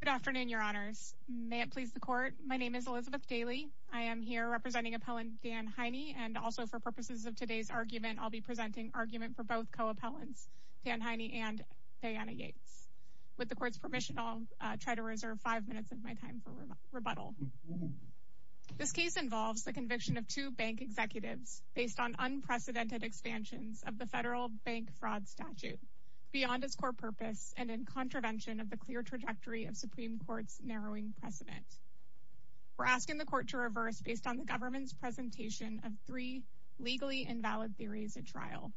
Good afternoon, your honors. May it please the court, my name is Elizabeth Daly. I am here representing appellant Dan Heine and also for purposes of today's argument, I'll be presenting argument for both co-appellants Dan Heine and Diana Yates. With the court's permission, I'll try to reserve five minutes of my time for rebuttal. This case involves the conviction of two bank executives based on unprecedented expansions of the federal bank fraud statute beyond its core purpose and in intervention of the clear trajectory of Supreme Court's narrowing precedent. We're asking the court to reverse based on the government's presentation of three legally invalid theories at trial.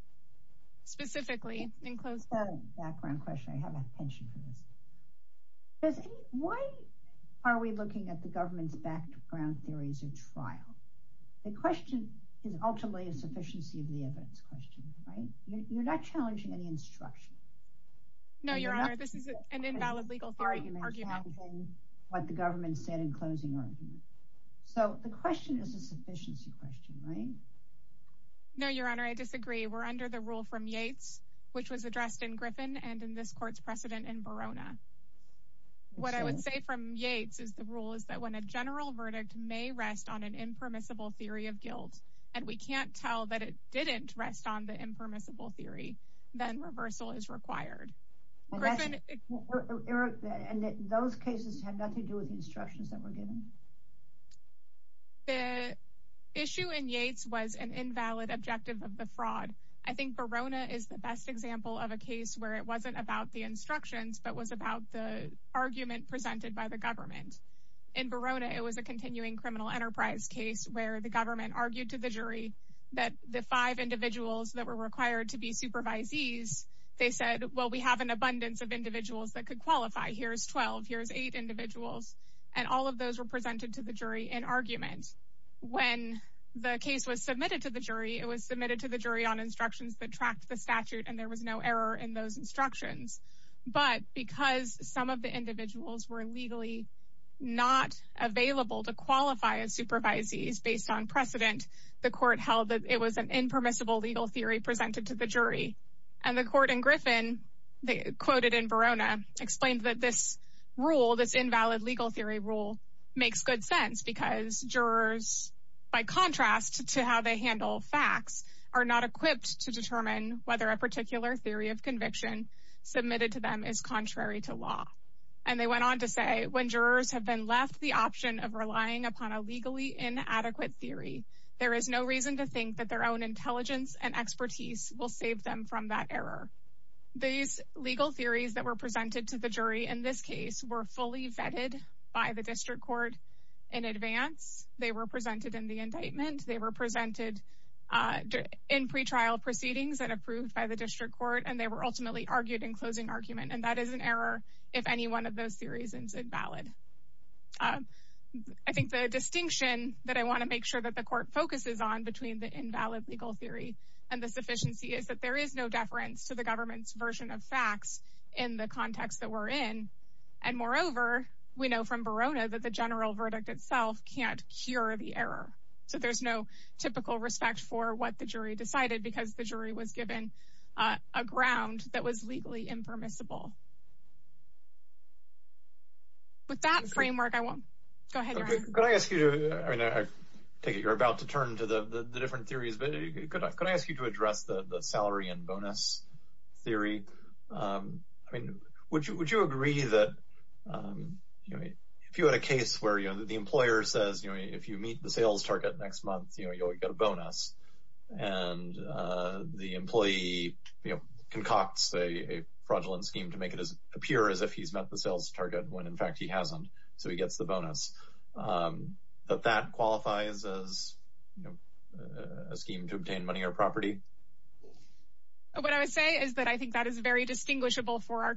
Specifically, in close background question, I have a penchant for this. Why are we looking at the government's background theories at trial? The question is ultimately a sufficiency of the question, right? You're not challenging any instruction. No, your honor, this is an invalid legal argument. What the government said in closing argument. So the question is a sufficiency question, right? No, your honor, I disagree. We're under the rule from Yates, which was addressed in Griffin and in this court's precedent in Verona. What I would say from Yates is the rule is that when a general verdict may rest on an impermissible theory of guilt, and we can't tell that it didn't rest on the impermissible theory, then reversal is required. And those cases have nothing to do with the instructions that were given. The issue in Yates was an invalid objective of the fraud. I think Verona is the best example of a case where it wasn't about the instructions but was about the argument presented by the government. In Verona, it was a continuing criminal enterprise case where the government argued to the jury that the five individuals that were required to be supervisees, they said, well, we have an abundance of individuals that could qualify. Here's 12. Here's eight individuals. And all of those were presented to the jury in argument. When the case was submitted to the jury, it was submitted to the jury on instructions that tracked the statute, and there was no error in those instructions. But because some of the the court held that it was an impermissible legal theory presented to the jury. And the court in Griffin, they quoted in Verona, explained that this rule, this invalid legal theory rule, makes good sense because jurors, by contrast to how they handle facts, are not equipped to determine whether a particular theory of conviction submitted to them is contrary to law. And they went on to say when jurors have been left the option of relying upon a legally inadequate theory, there is no reason to think that their own intelligence and expertise will save them from that error. These legal theories that were presented to the jury in this case were fully vetted by the district court in advance. They were presented in the indictment. They were presented in pre-trial proceedings and approved by the district court. And they were ultimately argued in closing argument. And that is an error if any one of those theories is invalid. I think the distinction that I want to make sure that the court focuses on between the invalid legal theory and the sufficiency is that there is no deference to the government's version of facts in the context that we're in. And moreover, we know from Verona that the general verdict itself can't cure the error. So there's no typical respect for what the jury decided because the jury was given a ground that was legally impermissible. With that framework, I won't... Go ahead, Ryan. Could I ask you to... I mean, I take it you're about to turn to the different theories, but could I ask you to address the salary and bonus theory? I mean, would you agree that if you had a case where, you know, the employer says, you know, if you meet the sales target next month, you know, you'll get a bonus. And the employee, you know, concocts a fraudulent scheme to make it appear as if he's met the sales target when in fact he hasn't. So he gets the bonus. But that qualifies as, you know, a scheme to obtain money or property? What I would say is that I think that is very distinguishable from our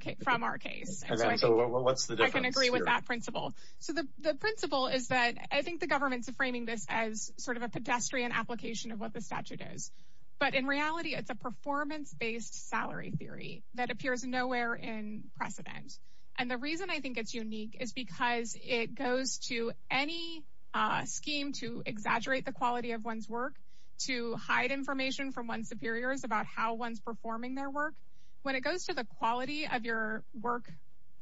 case. What's the difference? I can agree with that principle. So the principle is that I think the government's framing this as sort of a pedestrian application of what the statute is. But in reality, it's a performance based salary theory that appears nowhere in precedent. And the reason I think it's unique is because it goes to any scheme to exaggerate the quality of one's work, to hide information from one's superiors about how one's performing their work. When it goes to the quality of your work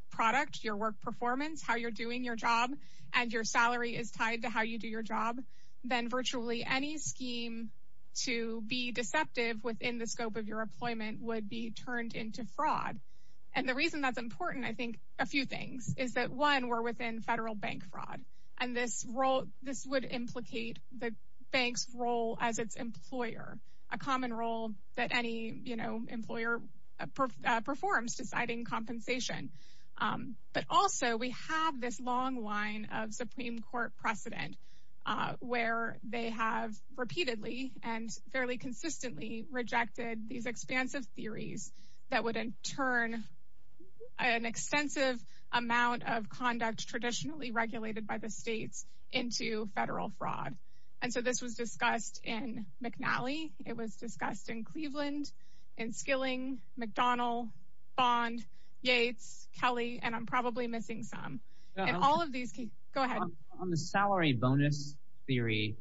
product, your work performance, how you're doing your job, and your salary is tied to how you do your job, then virtually any scheme to be deceptive within the scope of your employment would be turned into fraud. And the reason that's important, I think, a few things is that one, we're within federal bank fraud. And this role, this would implicate the bank's role as its employer, a common role that any, you know, employer performs deciding compensation. But also, we have this long line of Supreme Court precedent, where they have repeatedly and fairly consistently rejected these expansive theories that would in turn an extensive amount of conduct traditionally regulated by the states into federal fraud. And so this was discussed in McNally, it was discussed in Cleveland, in Skilling, McDonnell, Bond, Yates, Kelly, and I'm probably missing some. And all of these, go ahead. On the salary bonus theory,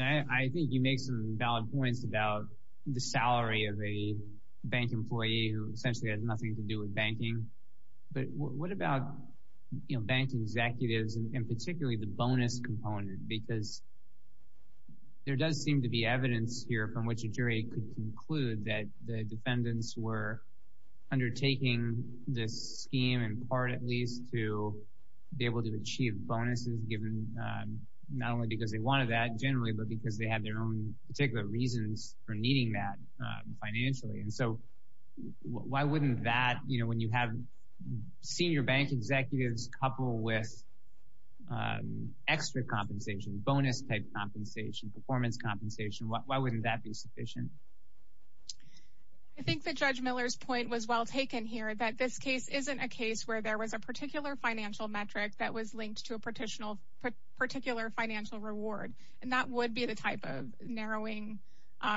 I think you make some valid points about the salary of a bank employee who essentially has nothing to do with banking. But what about, you know, bank executives, and particularly the bonus component? Because there does seem to be evidence here from which a jury could conclude that the defendants were undertaking this scheme in part at least to be able to achieve bonuses given, not only because they wanted that generally, but because they had their own particular reasons for needing that financially. And so why wouldn't that, you know, when you have senior bank executives coupled with extra compensation, bonus type compensation, performance compensation, why wouldn't that be sufficient? I think that Judge Miller's point was well taken here, that this case isn't a case where there was a particular financial metric that was linked to a particular financial reward. And that would be the type of narrowing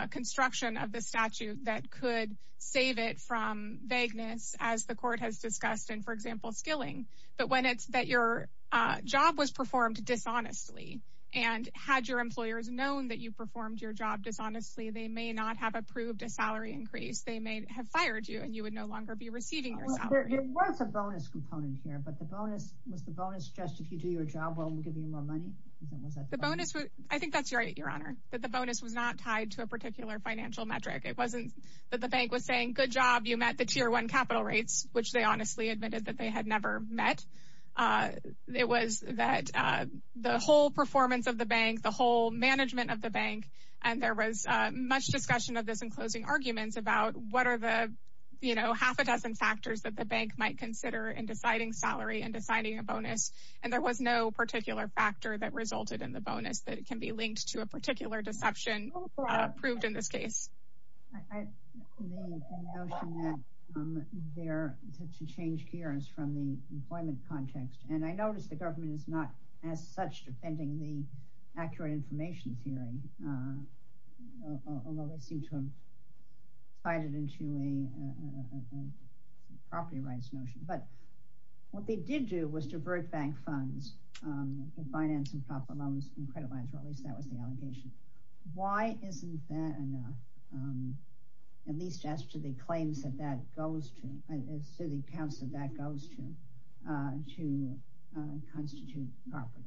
construction of the statute that could save it from vagueness, as the court has discussed in, for example, skilling. But when it's that your job was performed dishonestly, and had your employers known that you performed your job dishonestly, they may not have approved a salary increase, they may have fired you and you would no longer be receiving your salary. There was a bonus component here, but the bonus was the bonus just if you do your job, well, we'll give you more money? I think that's right, Your Honor, that the bonus was not tied to a particular financial metric. It wasn't that the bank was saying, good job, you met the tier one capital rates, which they honestly admitted that they had never met. It was that the whole performance of the bank, the whole management of the bank, and there was much discussion of this in closing arguments about what are the, you know, half a dozen factors that the bank might consider in deciding salary and deciding a bonus. And there was no particular factor that resulted in the bonus that can be linked to a particular deception proved in this case. I believe the notion that they're to change gears from the employment context, and I noticed the government is not as such defending the accurate information theory, although they seem to have tied it into a property rights notion. But what they did do was divert bank funds, finance and proper loans and credit lines, or at least that was the allegation. Why isn't that enough, at least as to the claims that that goes to, as to the accounts that that goes to, to constitute property?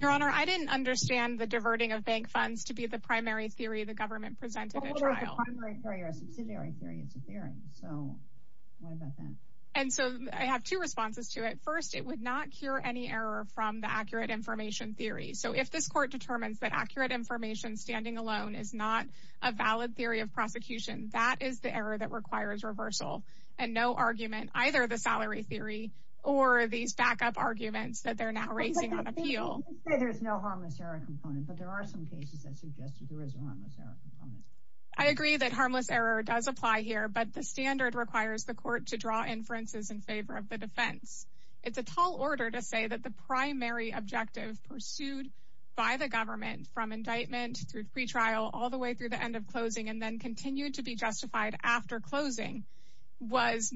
Your Honor, I didn't understand the diverting of bank funds to be the primary theory the government presented a trial. The primary theory or subsidiary theory is a theory. So what about that? And so I have two responses to it. First, it would not cure any error from the accurate information theory. So if this court determines that accurate information standing alone is not a valid theory of prosecution, that is the error that requires reversal and no argument, either the salary theory or these backup arguments that they're now raising on appeal. Let's say there's no harmless error component, but there are some cases that suggested there is a harmless error component. I agree that harmless error does apply here, but the standard requires the court to draw inferences in favor of the defense. It's a tall order to say that the primary objective pursued by the government from indictment through pretrial, all the way through the end of closing, and then continued to be justified after closing, where it's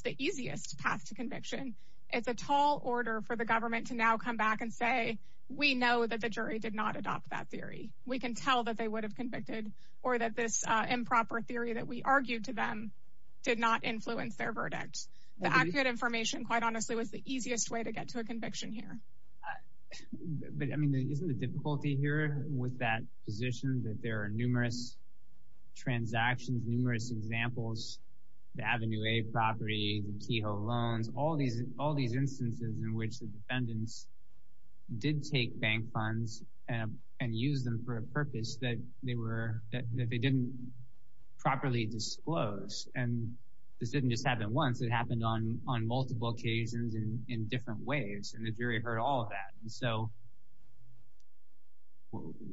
the easiest path to conviction. It's a tall order for the government to now come back and say, we know that the jury did not adopt that theory. We can tell that they would have convicted or that this improper theory that we argued to them did not influence their verdict. The accurate information, quite honestly, was the easiest way to get to a conviction here. But I mean, isn't the difficulty here with that position that there are numerous transactions, numerous examples, the Avenue A property, the Kehoe loans, all these instances in which the defendants did take bank funds and use them for a purpose that they didn't properly disclose. And this didn't just happen once, it happened on multiple occasions and in different ways. And the jury heard all of that. And so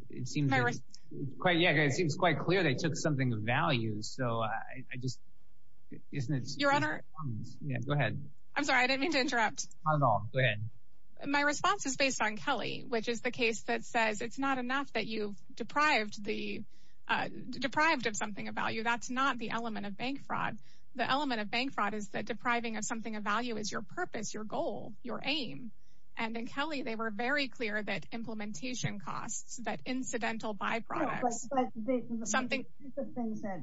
it seems quite clear they took something of value. So I just, isn't it- Your honor- Yeah, go ahead. I'm sorry, I didn't mean to interrupt. Not at all, go ahead. My response is based on Kelly, which is the case that says, it's not enough that you've deprived of something of value. That's not the element of bank fraud. The element of bank fraud is that depriving of something of value is your purpose, your goal, your aim. And in Kelly, they were very clear that implementation costs, that incidental byproducts- No, but the things that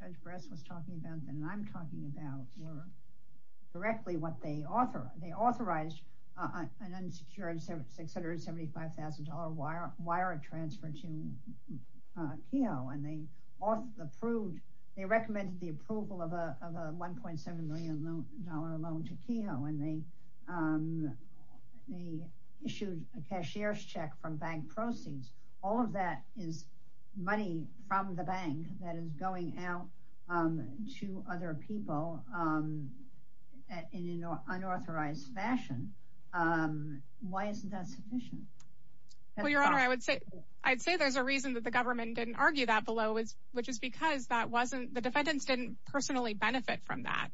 Judge Bress was talking about and I'm talking about were directly what they authorized. An unsecured $675,000 wire transfer to Kehoe. And they recommended the approval of a $1.7 million loan to Kehoe. And they issued a cashier's check from bank proceeds. All of that is money from the bank that is going out to other people in an unauthorized fashion. Why isn't that sufficient? Well, your honor, I'd say there's a reason that the government didn't argue that below, which is because the defendants didn't personally benefit from that.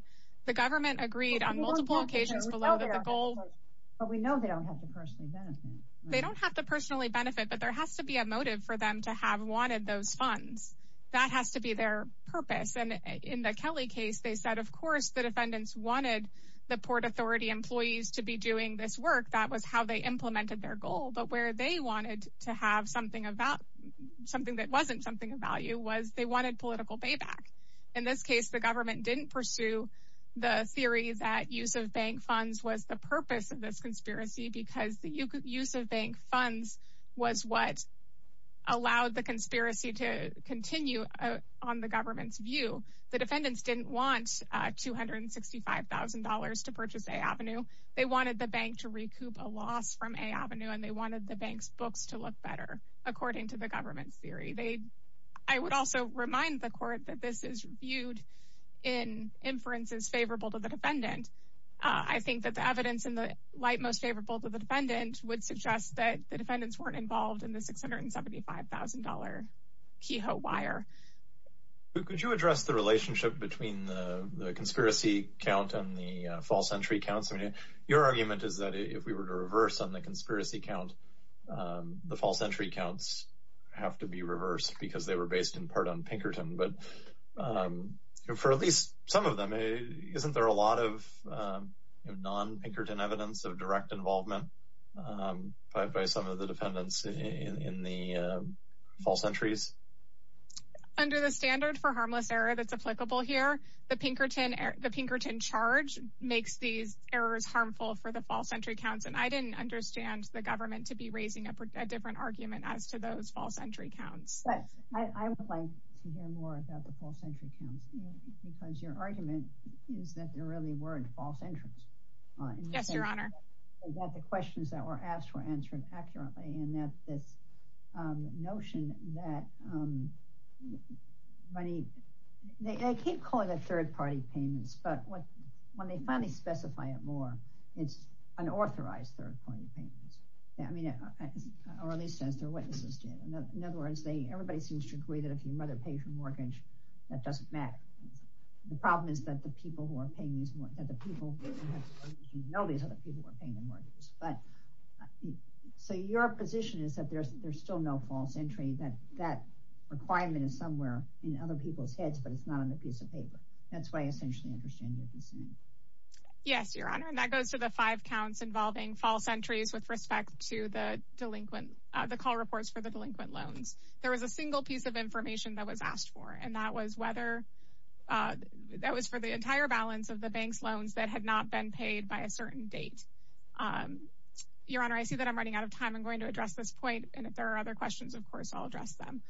The government agreed on multiple occasions below that the goal- But we know they don't have to personally benefit. They don't have to personally benefit, but there has to be a motive for them to have wanted those funds. That has to be their purpose. In the Kelly case, they said, of course, the defendants wanted the Port Authority employees to be doing this work. That was how they implemented their goal. But where they wanted to have something that wasn't something of value was they wanted political payback. In this case, the government didn't pursue the theory that use of bank funds was the purpose of this conspiracy because the use of bank funds was what allowed the conspiracy to continue on the government's view. The defendants didn't want $265,000 to purchase A Avenue. They wanted the bank to recoup a loss from A Avenue, and they wanted the bank's books to look better, according to the government's theory. I would also remind the court that this is viewed in inferences favorable to the defendant. I think that the evidence in the light most favorable to the defendant would suggest that the defendants weren't involved in the $675,000 keyhole wire. Could you address the relationship between the conspiracy count and the false entry counts? Your argument is that if we were to reverse on the conspiracy count, the false entry counts have to be reversed because they were based in part on Pinkerton. But for at least some of them, isn't there a lot of non-Pinkerton evidence of direct involvement by some of the defendants in the false entries? Under the standard for harmless error that's applicable here, the Pinkerton charge makes these errors harmful for the false entry counts, and I didn't understand the government to be raising a different argument as to those false entry counts. I would like to hear more about the false entry counts because your argument is that there really weren't false entries. Yes, Your Honor. The questions that were asked were answered accurately and that this notion that money, they keep calling it third-party payments, but when they finally specify it more, it's unauthorized third-party payments. Or at least as their witnesses did. In other words, everybody seems to agree that if your mother pays your mortgage, that doesn't matter. The problem is that the people who are paying these, that the people who know these other people who are paying the mortgages. But so your position is that there's still no false entry, that that requirement is somewhere in other people's heads, but it's not on the piece of paper. That's why I essentially understand your dissent. Yes, Your Honor, and that goes to the five counts involving false entries with respect to the delinquent, the call reports for the delinquent loans. There was a single piece of information that was asked for, and that was whether, that was for the entire balance of the bank's loans that had not been paid by a certain date. Your Honor, I see that I'm running out of time. I'm going to address this point. And if there are other questions, of course, I'll address them.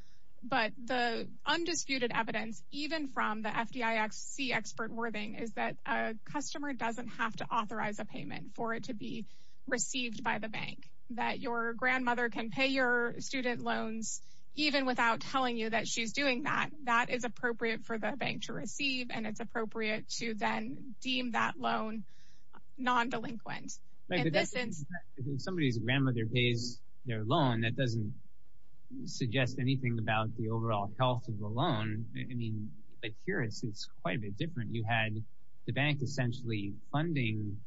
But the undisputed evidence, even from the FDIC expert worthing, is that a customer doesn't have to authorize a payment for it to be received by the bank. That your grandmother can pay your student loans even without telling you that she's doing that, that is appropriate for the bank to receive, and it's appropriate to then deem that loan non-delinquent. If somebody's grandmother pays their loan, that doesn't suggest anything about the overall health of the loan. I mean, but here it's quite a bit different. You had the bank essentially funding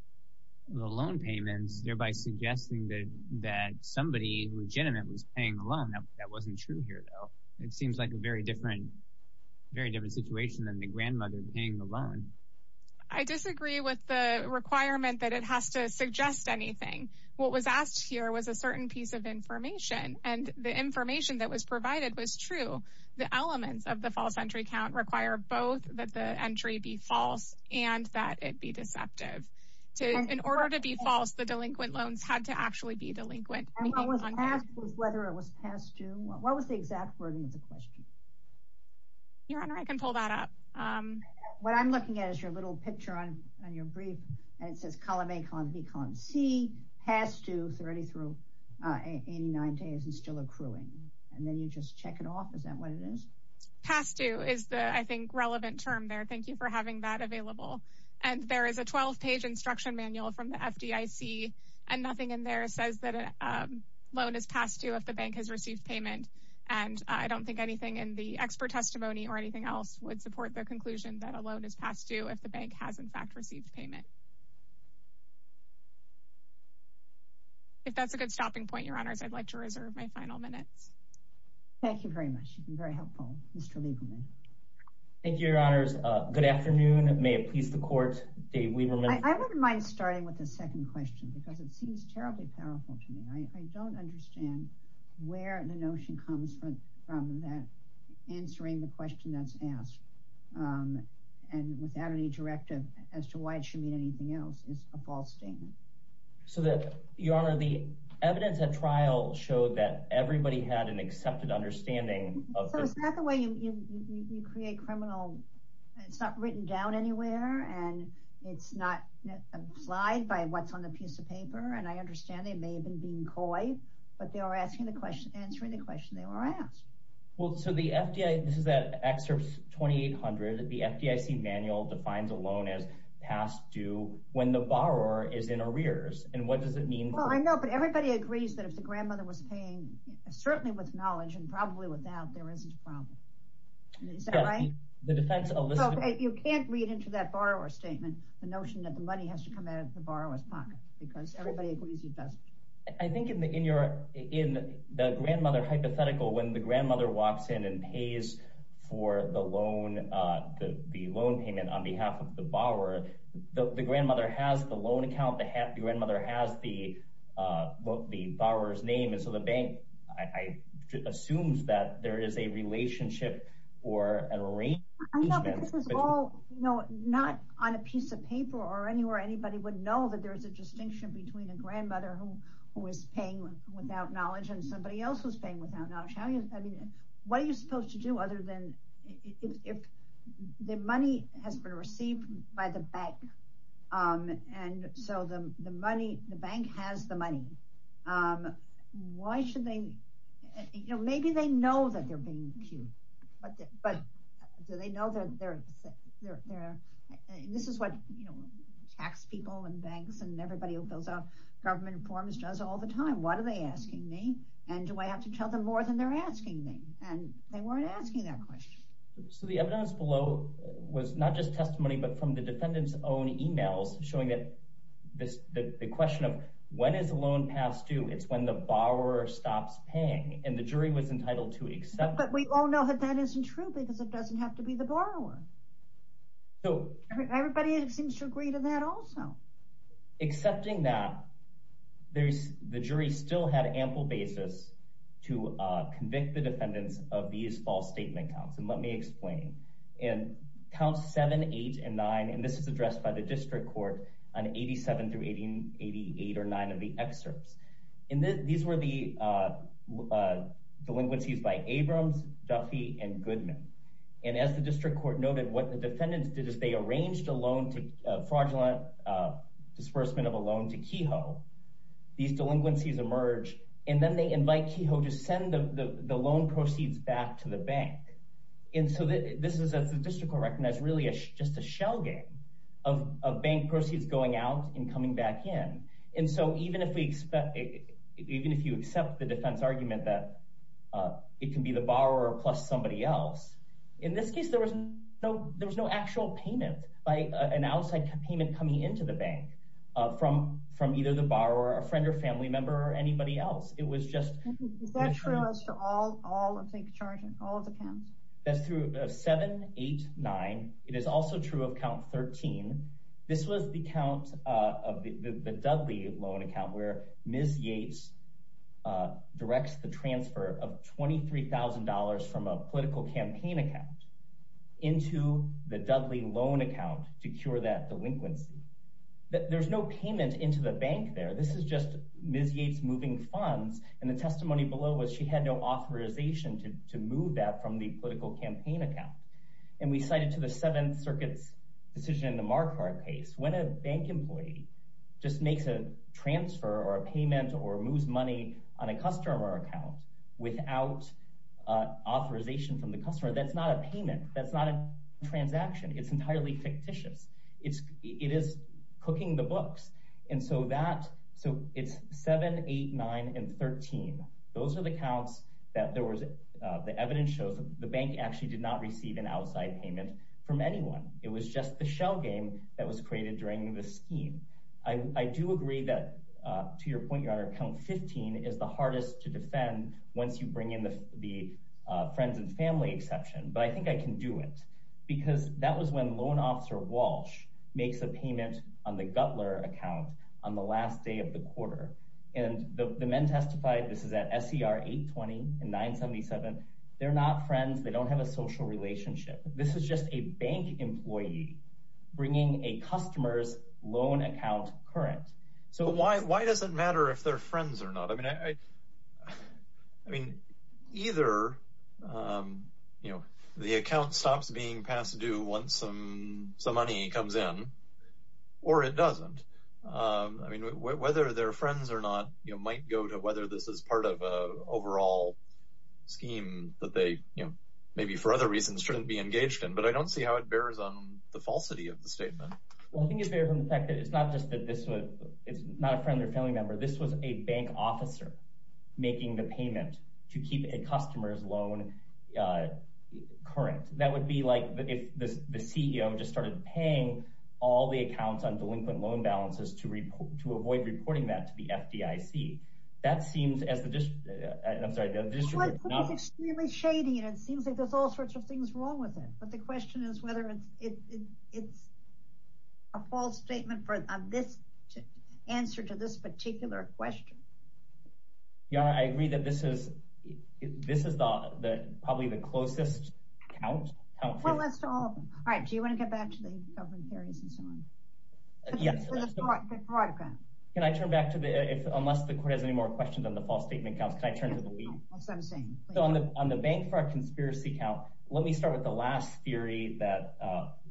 the loan payments, thereby suggesting that somebody legitimate was paying the loan. That wasn't true here, though. It seems like a very different situation than the grandmother paying the loan. I disagree with the requirement that it has to suggest anything. What was asked here was a certain piece of information, and the information that was provided was true. The elements of the false entry count require both that the entry be false and that it be deceptive. In order to be false, the delinquent loans had to actually be delinquent. And what was passed was whether it was past due. What was the exact wording of the question? Your Honor, I can pull that up. What I'm looking at is your little picture on your brief, and it says column A, column B, column C, past due 30 through 89 days and still accruing. And then you just check it off. Is that what it is? Past due is the, I think, relevant term there. Thank you for having that available. And there is a 12-page instruction manual from the FDIC, and nothing in there says that a loan is past due if the bank has received payment. And I don't think anything in the expert testimony or anything else would support the conclusion that a loan is past due if the bank has, in fact, received payment. If that's a good stopping point, Your Honors, I'd like to reserve my final minutes. Thank you very much. You've been very helpful, Mr. Lieberman. Thank you, Your Honors. Good afternoon. May it please the Court, Dave Lieberman. I wouldn't mind starting with the second question because it seems terribly powerful to me. I don't understand where the notion comes from that answering the question that's asked and without any directive as to why it should mean anything else is a false statement. So that, Your Honor, the evidence at trial showed that everybody had an accepted understanding. So is that the way you create criminal... It's not written down anywhere, and it's not applied by what's on the piece of paper. And I understand they may have been being coy, but they are answering the question they were asked. Well, so the FDIC... This is at Excerpt 2800. The FDIC manual defines a loan as past due when the borrower is in arrears. And what does it mean? Well, I know, but everybody agrees that if the grandmother was paying, certainly with knowledge and probably without, there isn't a problem. Is that right? The defense elicited... You can't read into that borrower statement the notion that the money has to come out of the borrower's pocket because everybody agrees it doesn't. I think in the grandmother hypothetical, when the grandmother walks in and pays for the loan payment on behalf of the borrower, the grandmother has the loan account, the grandmother has the borrower's name. And so the bank assumes that there is a relationship or an arrangement... I know, but this is all not on a piece of paper or anywhere anybody would know that there's a distinction between a grandmother who is paying without knowledge and somebody else who's paying without knowledge. What are you supposed to do other than... If the money has been received by the bank and so the bank has the money, why should they... Maybe they know that they're being cued, but do they know that they're... This is what tax people and banks and everybody who fills out government forms does all the time. What are they asking me? And do I have to tell them more than they're asking me? And they weren't asking that question. So the evidence below was not just testimony, but from the defendant's own emails showing that the question of when is the loan passed due, it's when the borrower stops paying. And the jury was entitled to accept... But we all know that that isn't true because it doesn't have to be the borrower. So... Everybody seems to agree to that also. Accepting that, the jury still had ample basis to convict the defendants of these false statement counts. And let me explain. And counts seven, eight, and nine, and this is addressed by the district court on 87 through 88 or nine of the excerpts. And these were the delinquencies by Abrams, Duffy, and Goodman. And as the district court noted, what the defendants did is they arranged a loan to... Fraudulent disbursement of a loan to Kehoe. These delinquencies emerge, and then they invite Kehoe to send the loan proceeds back to the bank. And so this is, as the district court recognized, really just a shell game of bank proceeds going out and coming back in. And so even if you accept the defense argument that it can be the borrower plus somebody else, in this case, there was no actual payment by an outside payment coming into the bank from either the borrower, a friend or family member, or anybody else. It was just- Is that true as to all of the charges, all of the counts? That's through seven, eight, nine. It is also true of count 13. This was the count of the Dudley loan account where Ms. Yates directs the transfer of $23,000 from a political campaign account into the Dudley loan account to cure that delinquency. There's no payment into the bank there. This is just Ms. Yates moving funds, and the testimony below was she had no authorization to move that from the political campaign account. And we cited to the Seventh Circuit's decision in the Marquardt case. When a bank employee just makes a transfer or a payment or moves money on a customer account without authorization from the customer, that's not a payment. That's not a transaction. It's entirely fictitious. It is cooking the books. And so that, so it's seven, eight, nine, and 13. Those are the counts that there was, the evidence shows the bank actually did not receive an outside payment from anyone. It was just the shell game that was created during the scheme. I do agree that, to your point, Your Honor, count 15 is the hardest to defend once you bring in the friends and family exception, but I think I can do it because that was when loan officer Walsh makes a payment on the Guttler account on the last day of the quarter. And the men testified, this is at SER 820 and 977. They're not friends. They don't have a social relationship. This is just a bank employee bringing a customer's loan account current. So why does it matter if they're friends or not? I mean, I mean, either, you know, the account stops being passed due once some money comes in, or it doesn't. I mean, whether they're friends or not, you might go to whether this is part of a overall scheme that they, you know, maybe for other reasons shouldn't be engaged in, but I don't see how it bears on the falsity of the statement. Well, I think it bears on the fact that it's not just that this was, it's not a friend or family member. This was a bank officer making the payment to keep a customer's loan current. That would be like if the CEO just started paying all the accounts on delinquent loan balances to avoid reporting that to the FDIC. That seems as the district, I'm sorry, the district is not- It's extremely shady, and it seems like there's all sorts of things wrong with it. But the question is whether it's a false statement for this answer to this particular question. Your Honor, I agree that this is, this is the probably the closest count. Well, let's do all of them. All right, do you want to get back to the government hearings and so on? Yes. Can I turn back to the, unless the court has any more questions on the false statement counts, can I turn to the lead? So on the bank for a conspiracy count, let me start with the last theory that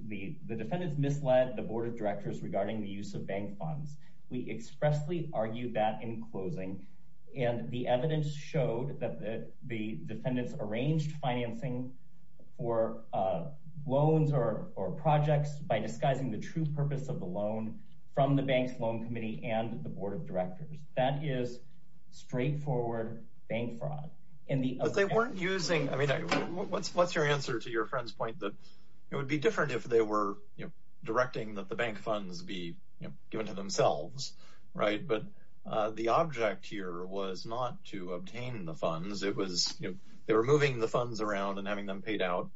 the defendants misled the board of directors regarding the use of bank funds. We expressly argued that in closing, and the evidence showed that the defendants arranged financing for loans or projects by disguising the true purpose of the loan from the bank's loan committee and the board of directors. That is straightforward bank fraud. But they weren't using, I mean, what's your answer to your friend's point that it would be different if they were directing that the bank funds be given to themselves, right? But the object here was not to obtain the funds. It was, you know, they were moving the funds around and having them paid out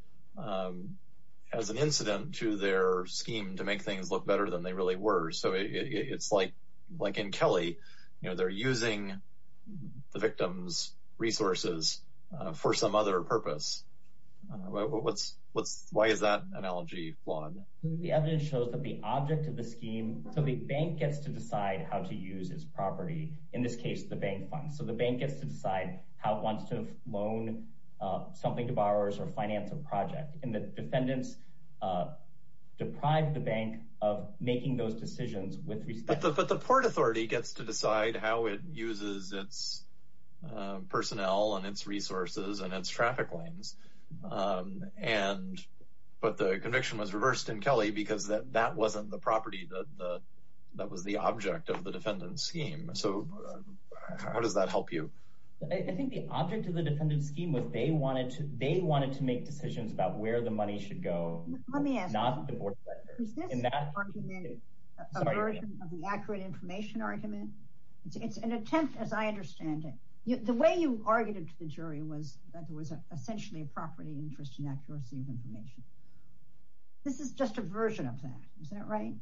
as an incident to their scheme to make things look better than they really were. So it's like in Kelly, you know, they're using the victim's resources for some other purpose. Why is that analogy flawed? The evidence shows that the object of the scheme, so the bank gets to decide how to use its property, in this case, the bank funds. So the bank gets to decide how it wants to loan something to borrowers or finance a project. And the defendants deprived the bank of making those decisions with respect. But the port authority gets to decide how it uses its personnel and its resources and its traffic lanes. But the conviction was reversed in Kelly because that wasn't the property that was the object of the defendant's scheme. So how does that help you? I think the object of the defendant's scheme was they wanted to make decisions about where the money should go. Let me ask you, is this argument a version of the accurate information argument? It's an attempt, as I understand it. The way you argued it to the jury was that there was essentially a property interest in accuracy of information. This is just a version of that. Is that right?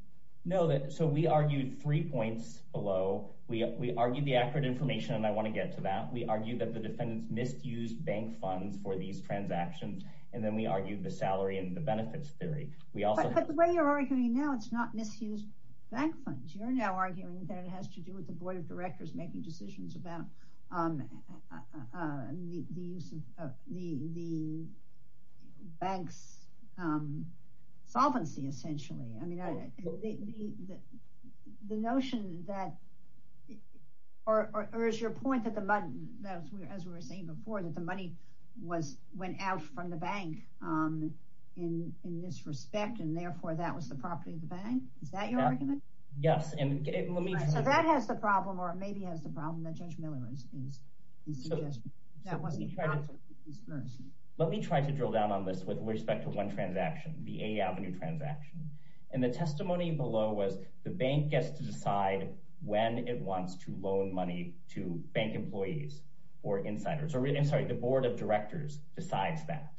No, so we argued three points below. We argued the accurate information and I wanna get to that. We argued that the defendants misused bank funds for these transactions. And then we argued the salary and the benefits theory. We also- But the way you're arguing now, it's not misused bank funds. You're now arguing that it has to do with the board of directors making decisions about the bank's solvency, essentially. I mean, the notion that, or is your point that the money, as we were saying before, that the money went out from the bank in this respect and therefore that was the property of the bank? Is that your argument? Yes, and let me- So that has the problem or maybe has the problem that Judge Miller is suggesting. That wasn't the property of the bank. Let me try to drill down on this with respect to one transaction, the A Avenue transaction. And the testimony below was the bank gets to decide when it wants to loan money to bank employees or insiders, or I'm sorry, the board of directors decides that.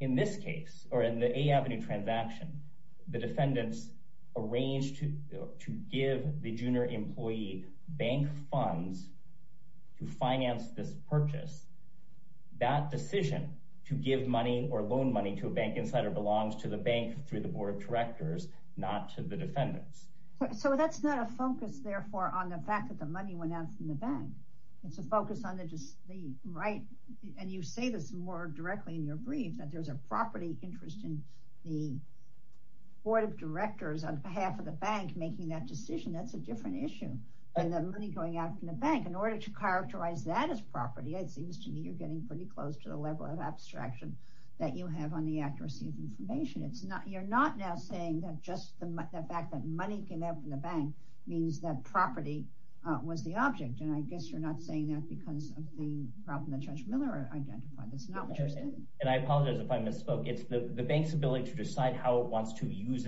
In this case, or in the A Avenue transaction, the defendants arranged to give the junior employee bank funds to finance this purchase. That decision to give money or loan money to a bank insider belongs to the bank through the board of directors, not to the defendants. So that's not a focus, therefore, on the fact that the money went out from the bank. It's a focus on the right, and you say this more directly in your brief, that there's a property interest in the board of directors on behalf of the bank making that decision. That's a different issue than the money going out from the bank. In order to characterize that as property, it seems to me you're getting pretty close to the level of abstraction that you have on the accuracy of information. It's not, you're not now saying that just the fact that money came out from the bank means that property was the object. And I guess you're not saying that because of the problem that Judge Miller identified. That's not what you're saying. And I apologize if I misspoke. It's the bank's ability to decide how it wants to use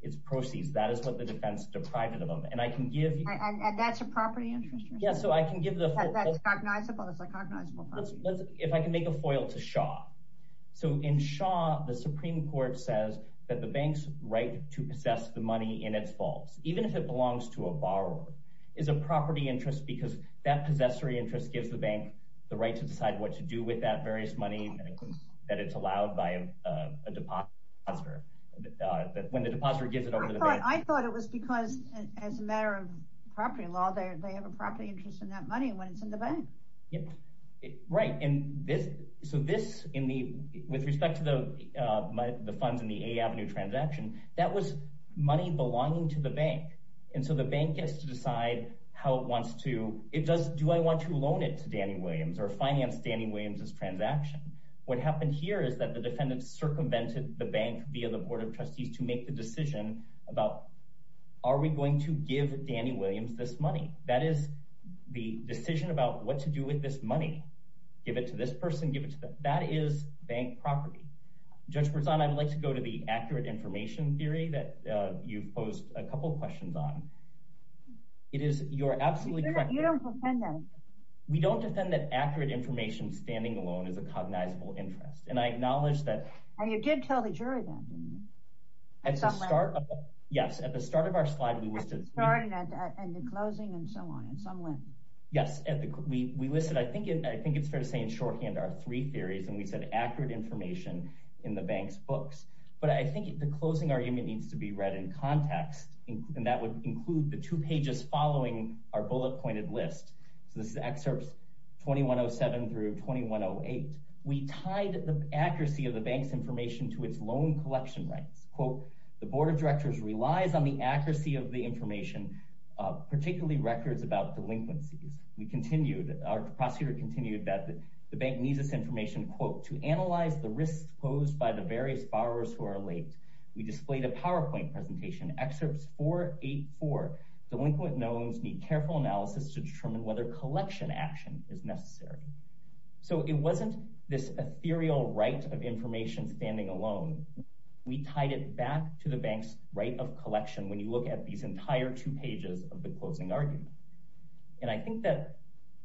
its proceeds. That is what the defense deprived of them. And I can give you- And that's a property interest? Yeah, so I can give the- That's cognizable, it's a cognizable property. If I can make a foil to Shaw. So in Shaw, the Supreme Court says that the bank's right to possess the money in its vaults, even if it belongs to a borrower, is a property interest because that possessory interest gives the bank the right to decide what to do with that various money. That it's allowed by a depositor. When the depositor gives it over to the bank. I thought it was because, as a matter of property law, they have a property interest in that money when it's in the bank. Right. So this, with respect to the funds in the A Avenue transaction, that was money belonging to the bank. And so the bank gets to decide how it wants to, it does, do I want to loan it to Danny Williams or finance Danny Williams's transaction? What happened here is that the defendant circumvented the bank via the board of trustees to make the decision about, are we going to give Danny Williams this money? That is the decision about what to do with this money. Give it to this person, give it to them. That is bank property. Judge Berzon, I'd like to go to the accurate information theory that you've posed a couple of questions on. It is, you're absolutely correct. You don't defend that. We don't defend that accurate information standing alone as a cognizable interest. And I acknowledge that- And you did tell the jury that, didn't you? Yes. At the start of our slide, we listed- At the starting and the closing and so on, in some way. Yes, we listed, I think it's fair to say, in shorthand, our three theories. And we said accurate information in the bank's books. But I think the closing argument needs to be read in context. And that would include the two pages following our bullet pointed list. So this is excerpts 2107 through 2108. We tied the accuracy of the bank's information to its loan collection rights. The board of directors relies on the accuracy of the information, particularly records about delinquencies. We continued, our prosecutor continued that the bank needs this information, quote, to analyze the risks posed by the various borrowers who are late. We displayed a PowerPoint presentation, excerpts 484. Delinquent knowns need careful analysis to determine whether collection action is necessary. So it wasn't this ethereal right of information standing alone. We tied it back to the bank's right of collection when you look at these entire two pages of the closing argument. And I think that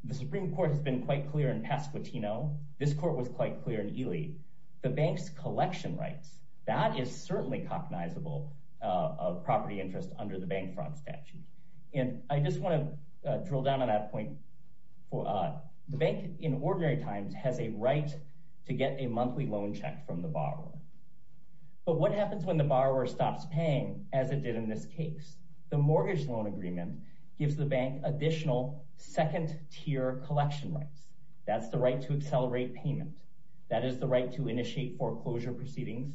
the Supreme Court has been quite clear in Pasquitino. This court was quite clear in Ely. The bank's collection rights, that is certainly cognizable of property interest under the bank fraud statute. And I just want to drill down on that point. The bank in ordinary times has a right to get a monthly loan check from the borrower. But what happens when the borrower stops paying as it did in this case? The mortgage loan agreement gives the bank additional second tier collection rights. That's the right to accelerate payment. That is the right to initiate foreclosure proceedings,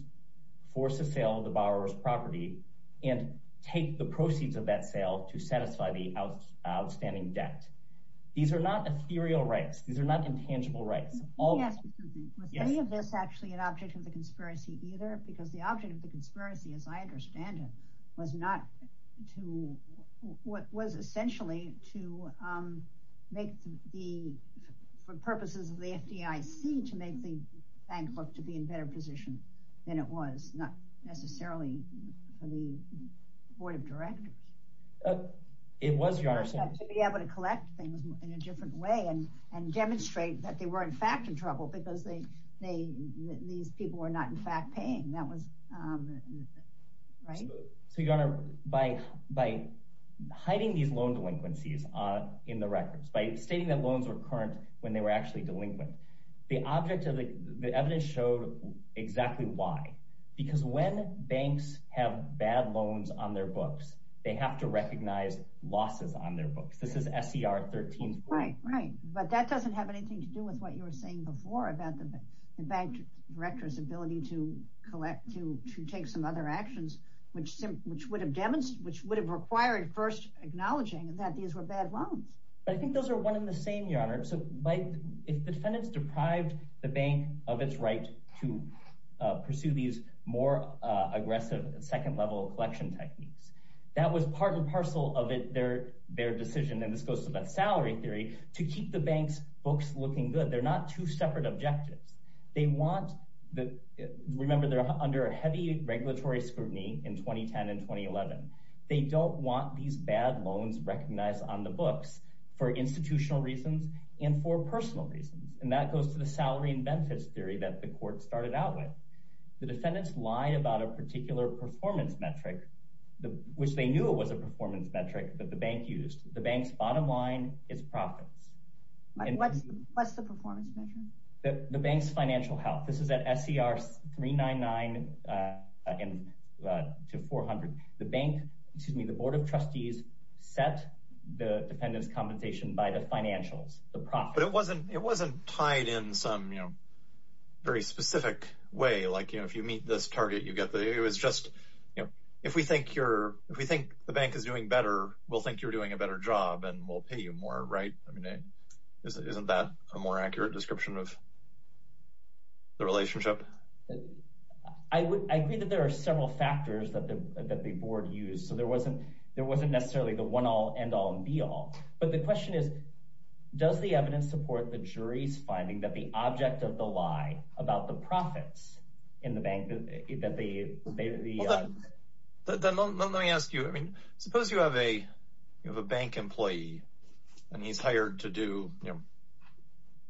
force a sale of the borrower's property, and take the proceeds of that sale to satisfy the outstanding debt. These are not ethereal rights. These are not intangible rights. Yes, was any of this actually an object of the conspiracy either? Because the object of the conspiracy, as I understand it, was essentially for purposes of the FDIC to make the bank look to be in better position than it was, not necessarily for the board of directors. It was, Your Honor. To be able to collect things in a different way and demonstrate that they were in fact in trouble because these people were not in fact paying. That was, right? So Your Honor, by hiding these loan delinquencies in the records, by stating that loans were current when they were actually delinquent, the object of the evidence showed exactly why. Because when banks have bad loans on their books, they have to recognize losses on their books. This is SCR 13-4. Right, right. But that doesn't have anything to do with what you were saying before about the bank director's ability to take some other actions, which would have required first acknowledging that these were bad loans. But I think those are one and the same, Your Honor. So if defendants deprived the bank of its right to pursue these more aggressive second-level collection techniques, that was part and parcel of their decision, and this goes to that salary theory, to keep the bank's books looking good. They're not two separate objectives. They want, remember, they're under heavy regulatory scrutiny in 2010 and 2011. They don't want these bad loans recognized on the books for institutional reasons and for personal reasons. And that goes to the salary and benefits theory that the court started out with. The defendants lied about a particular performance metric, which they knew it was a performance metric that the bank used. The bank's bottom line is profits. What's the performance metric? The bank's financial health. This is at SCR 399 to 400. The bank, excuse me, the board of trustees set the defendants' compensation by the financials, the profits. But it wasn't tied in some very specific way. Like, you know, if you meet this target, you get the... It was just, you know, if we think the bank is doing better, we'll think you're doing a better job and we'll pay you more, right? I mean, isn't that a more accurate description of the relationship? I agree that there are several factors that the board used. So there wasn't necessarily the one-all, end-all, and be-all. But the question is, does the evidence support the jury's finding that the object of the lie about the profits in the bank that they... Well, then let me ask you, I mean, suppose you have a bank employee and he's hired to do, you know,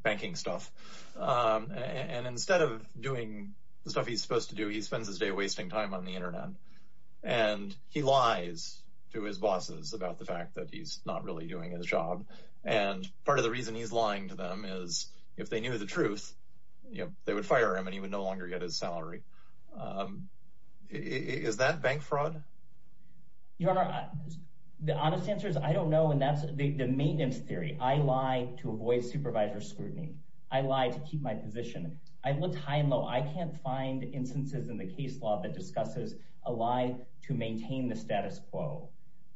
banking stuff. And instead of doing the stuff he's supposed to do, he spends his day wasting time on the internet. And he lies to his bosses about the fact that he's not really doing his job. And part of the reason he's lying to them is if they knew the truth, you know, they would fire him and he would no longer get his salary. Is that bank fraud? Your Honor, the honest answer is I don't know. And that's the maintenance theory. I lie to avoid supervisor scrutiny. I lie to keep my position. I've looked high and low. I can't find instances in the case law that discusses a lie to maintain the status quo.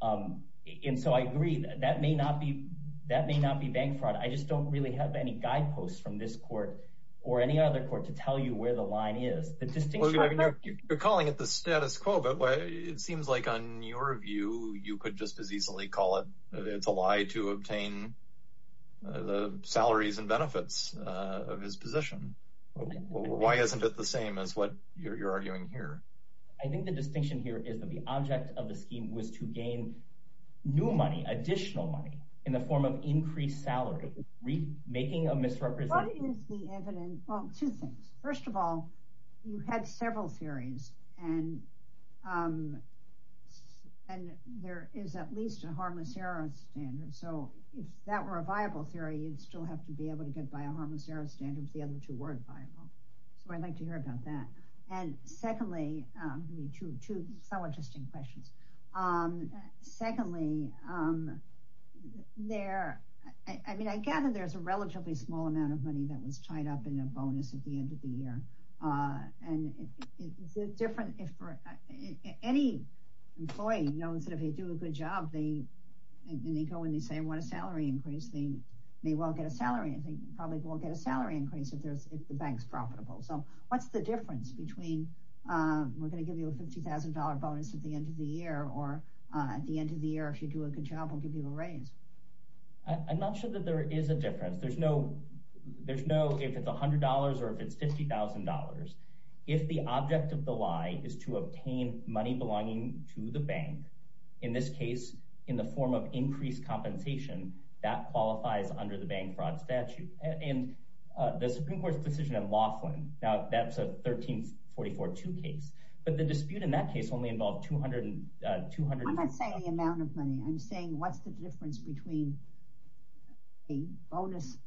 And so I agree, that may not be bank fraud. I just don't really have any guideposts from this court or any other court to tell you where the line is. The distinction I've made- You're calling it the status quo, but it seems like on your view, you could just as easily call it, it's a lie to obtain the salaries and benefits of his position. Why isn't it the same as what you're arguing here? I think the distinction here is that the object of the scheme was to gain new money, additional money in the form of increased salary, making a misrepresentation- What is the evidence? Well, two things. First of all, you had several theories and there is at least a harmicera standard. So if that were a viable theory, you'd still have to be able to get by a harmicera standard if the other two weren't viable. So I'd like to hear about that. And secondly, two somewhat interesting questions. Secondly, I mean, I gather there's a relatively small amount of money that was tied up in a bonus at the end of the year. And it's a different- Any employee knows that if they do a good job, and they go and they say, I want a salary increase, they may well get a salary. If the bank's profitable. So what's the difference between, we're going to give you a $50,000 bonus at the end of the year, or at the end of the year, if you do a good job, we'll give you a raise. I'm not sure that there is a difference. There's no, if it's $100 or if it's $50,000, if the object of the lie is to obtain money belonging to the bank, in this case, in the form of increased compensation, that qualifies under the bank fraud statute. And the Supreme Court's decision in Laughlin, now that's a 1344-2 case. But the dispute in that case only involved 200- I'm not saying the amount of money. I'm saying, what's the difference between a bonus,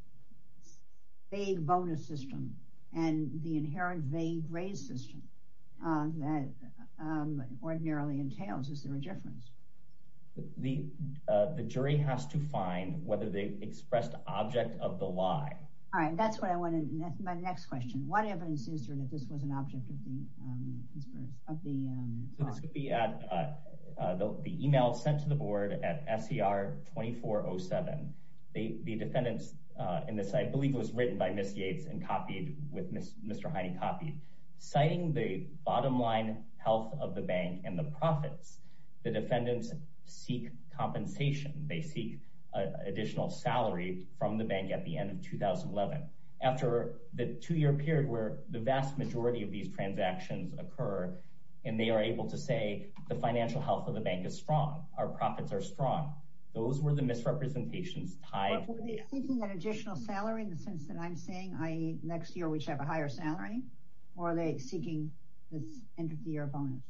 vague bonus system, and the inherent vague raise system that ordinarily entails? Is there a difference? The jury has to find whether they expressed object of the lie. All right, that's what I wanted. My next question. What evidence is there that this was an object of the conspiracy, of the fraud? So this would be at the email sent to the board at SCR-2407. The defendants in this, I believe, was written by Ms. Yates and copied with Mr. Heine copied. Citing the bottom line health of the bank and the profits, the defendants seek compensation. They seek additional salary from the bank at the end of 2011. After the two-year period where the vast majority of these transactions occur, and they are able to say, the financial health of the bank is strong. Our profits are strong. Those were the misrepresentations tied- Are they seeking an additional salary in the sense that I'm saying, i.e. next year we should have a higher salary? Or are they seeking this end-of-the-year bonus?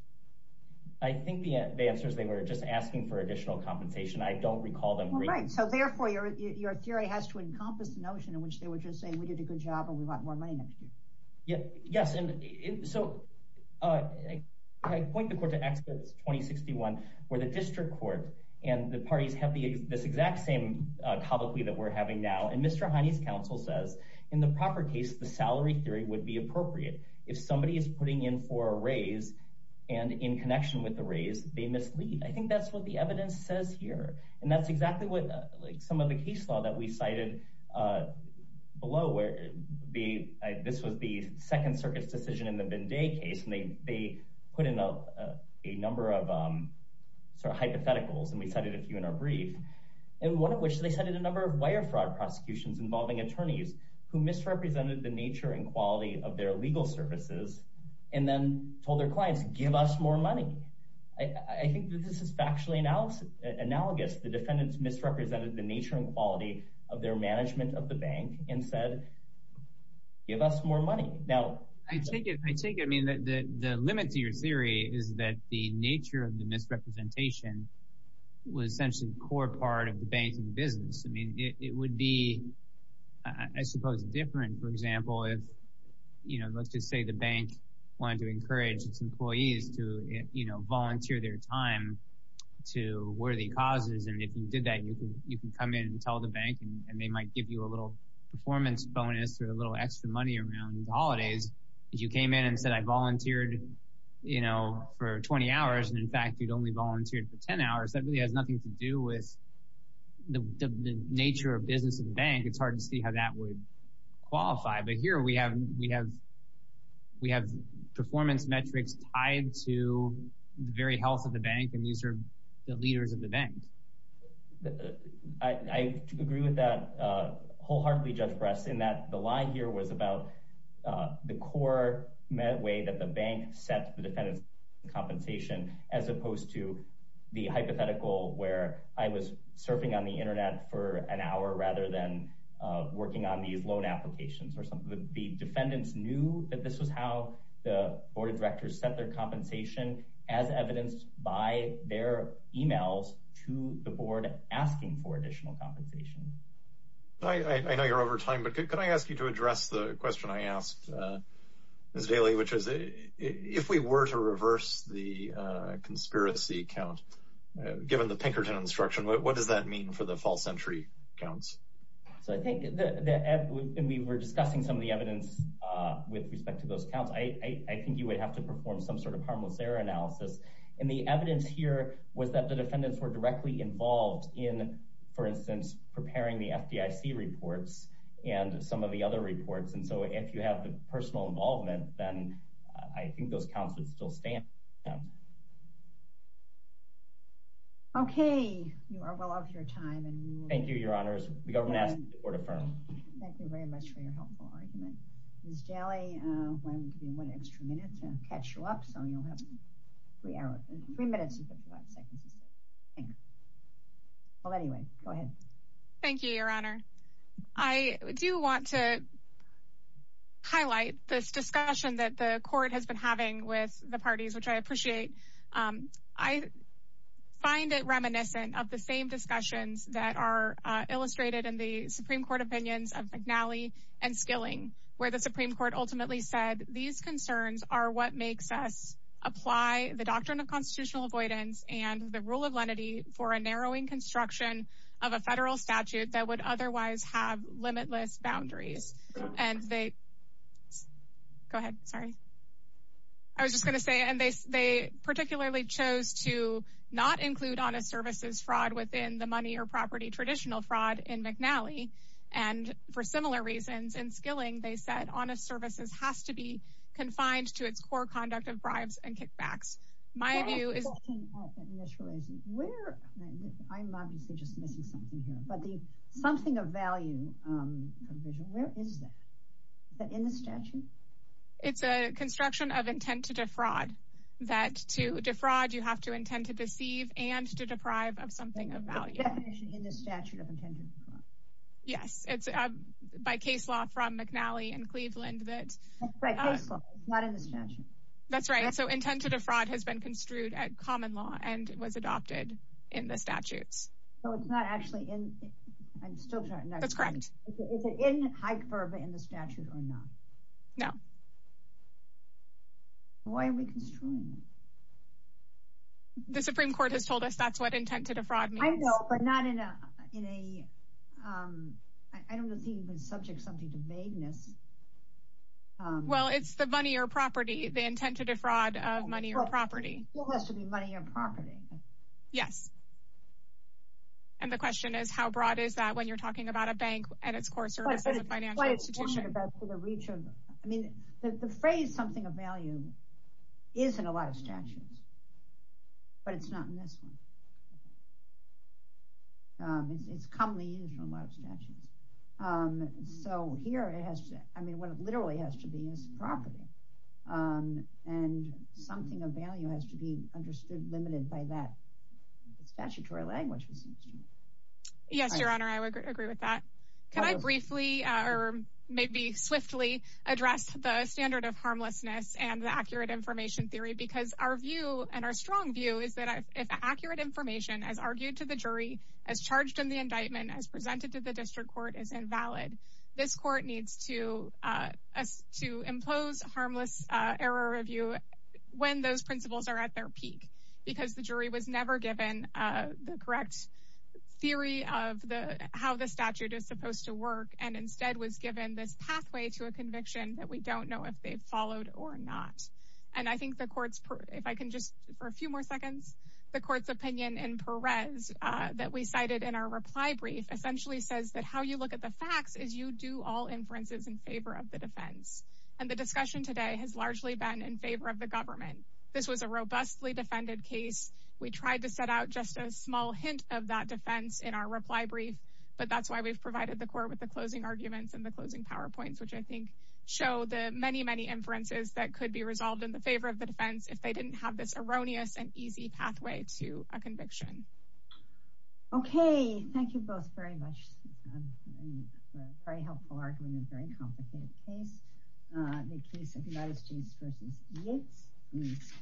I think the answer is they were just asking for additional compensation. I don't recall them- Well, right. So therefore, your theory has to encompass the notion in which they were just saying we did a good job and we want more money next year. Yeah, yes. So I point the court to Exodus 2061, where the district court and the parties have this exact same topic that we're having now. And Mr. Heine's counsel says, in the proper case, the salary theory would be appropriate. If somebody is putting in for a raise and in connection with the raise, they mislead. I think that's what the evidence says here. And that's exactly what some of the case law that we cited below, where this was the Second Circuit's decision in the Vendee case. And they put in a number of sort of hypotheticals, and we cited a few in our brief. And one of which they cited a number of wire fraud prosecutions involving attorneys who misrepresented the nature and quality of their legal services, and then told their clients, give us more money. I think that this is factually analogous. The defendants misrepresented the nature and quality of their management of the bank and said, give us more money. Now, I take it, I mean, the limit to your theory is that the nature of the misrepresentation was essentially the core part of the banking business. I mean, it would be, I suppose, different, for example, if, you know, let's just say the bank wanted to encourage its employees to, you know, volunteer their time to worthy causes. And if you did that, you can come in and tell the bank, and they might give you a little performance bonus or a little extra money around the holidays. If you came in and said, I volunteered, you know, for 20 hours, and in fact, you'd only volunteered for 10 hours, that really has nothing to do with the nature of business in the bank. It's hard to see how that would qualify. But here we have performance metrics tied to the very health of the bank, and these are the leaders of the bank. I agree with that wholeheartedly, Judge Brest, in that the lie here was about the core way that the bank set the defendant's compensation, as opposed to the hypothetical where I was surfing on the internet for an hour, rather than working on these loan applications that the defendants knew that this was how the board of directors set their compensation as evidenced by their emails to the board asking for additional compensation. I know you're over time, but could I ask you to address the question I asked, Ms. Daley, which is, if we were to reverse the conspiracy count, given the Pinkerton instruction, what does that mean for the false entry counts? So I think that we were discussing some of the evidence with respect to those counts. I think you would have to perform some sort of harmless error analysis. And the evidence here was that the defendants were directly involved in, for instance, preparing the FDIC reports and some of the other reports. And so if you have the personal involvement, then I think those counts would still stand. Okay, you are well off your time. Thank you, your honors. The government asks that the court affirm. Thank you very much for your helpful argument. Ms. Daley, why don't we give you one extra minute to catch you up? So you'll have three hours, three minutes and 55 seconds to stay. Well, anyway, go ahead. Thank you, your honor. I do want to highlight this discussion that the court has been having with the parties, which I appreciate. I find it reminiscent of the same discussions that are illustrated in the Supreme Court opinions of McNally and Skilling, where the Supreme Court ultimately said, these concerns are what makes us apply the doctrine of constitutional avoidance and the rule of lenity for a narrowing construction of a federal statute that would otherwise have limitless boundaries. And they, go ahead, sorry. I was just going to say, and they particularly chose to not include honest services fraud within the money or property traditional fraud in McNally. And for similar reasons in Skilling, they said, honest services has to be confined to its core conduct of bribes and kickbacks. My view is- My question is, where, I'm obviously just missing something here, but the something of value provision, where is that? Is that in the statute? That to defraud, you have to intend to deceive and to deprive of something of value. The definition in the statute of intent to defraud. Yes, it's by case law from McNally and Cleveland that- By case law, it's not in the statute. That's right, so intent to defraud has been construed at common law and was adopted in the statutes. So it's not actually in, I'm still trying to- That's correct. Is it in high curve in the statute or not? No. Why are we construing it? The Supreme Court has told us that's what intent to defraud means. I know, but not in a, I don't think you can subject something to vagueness. Well, it's the money or property, the intent to defraud of money or property. It still has to be money or property. Yes. And the question is, how broad is that when you're talking about a bank and its core service as a financial institution? I mean, the phrase something of value is in a lot of statutes, but it's not in this one. It's commonly used in a lot of statutes. So here it has to, I mean, what it literally has to be is property. And something of value has to be understood, limited by that statutory language. Yes, Your Honor, I would agree with that. Can I briefly, or maybe swiftly, address the standard of harmlessness and the accurate information theory? Because our view and our strong view is that if accurate information as argued to the jury, as charged in the indictment, as presented to the district court is invalid, this court needs to impose harmless error review when those principles are at their peak. Because the jury was never given the correct theory of how the statute is supposed to work. And instead was given this pathway to a conviction that we don't know if they've followed or not. And I think the court's, if I can just for a few more seconds, the court's opinion in Perez that we cited in our reply brief, essentially says that how you look at the facts is you do all inferences in favor of the defense. And the discussion today has largely been in favor of the government. This was a robustly defended case. We tried to set out just a small hint of that defense in our reply brief, but that's why we've provided the court with the closing arguments and the closing PowerPoints, which I think show the many, many inferences that could be resolved in the favor of the defense if they didn't have this erroneous and easy pathway to a conviction. Okay. Thank you both very much for a very helpful argument, a very complicated case. The case of Gladys James versus Yates was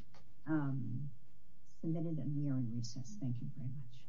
submitted at nearly recess. Thank you very much.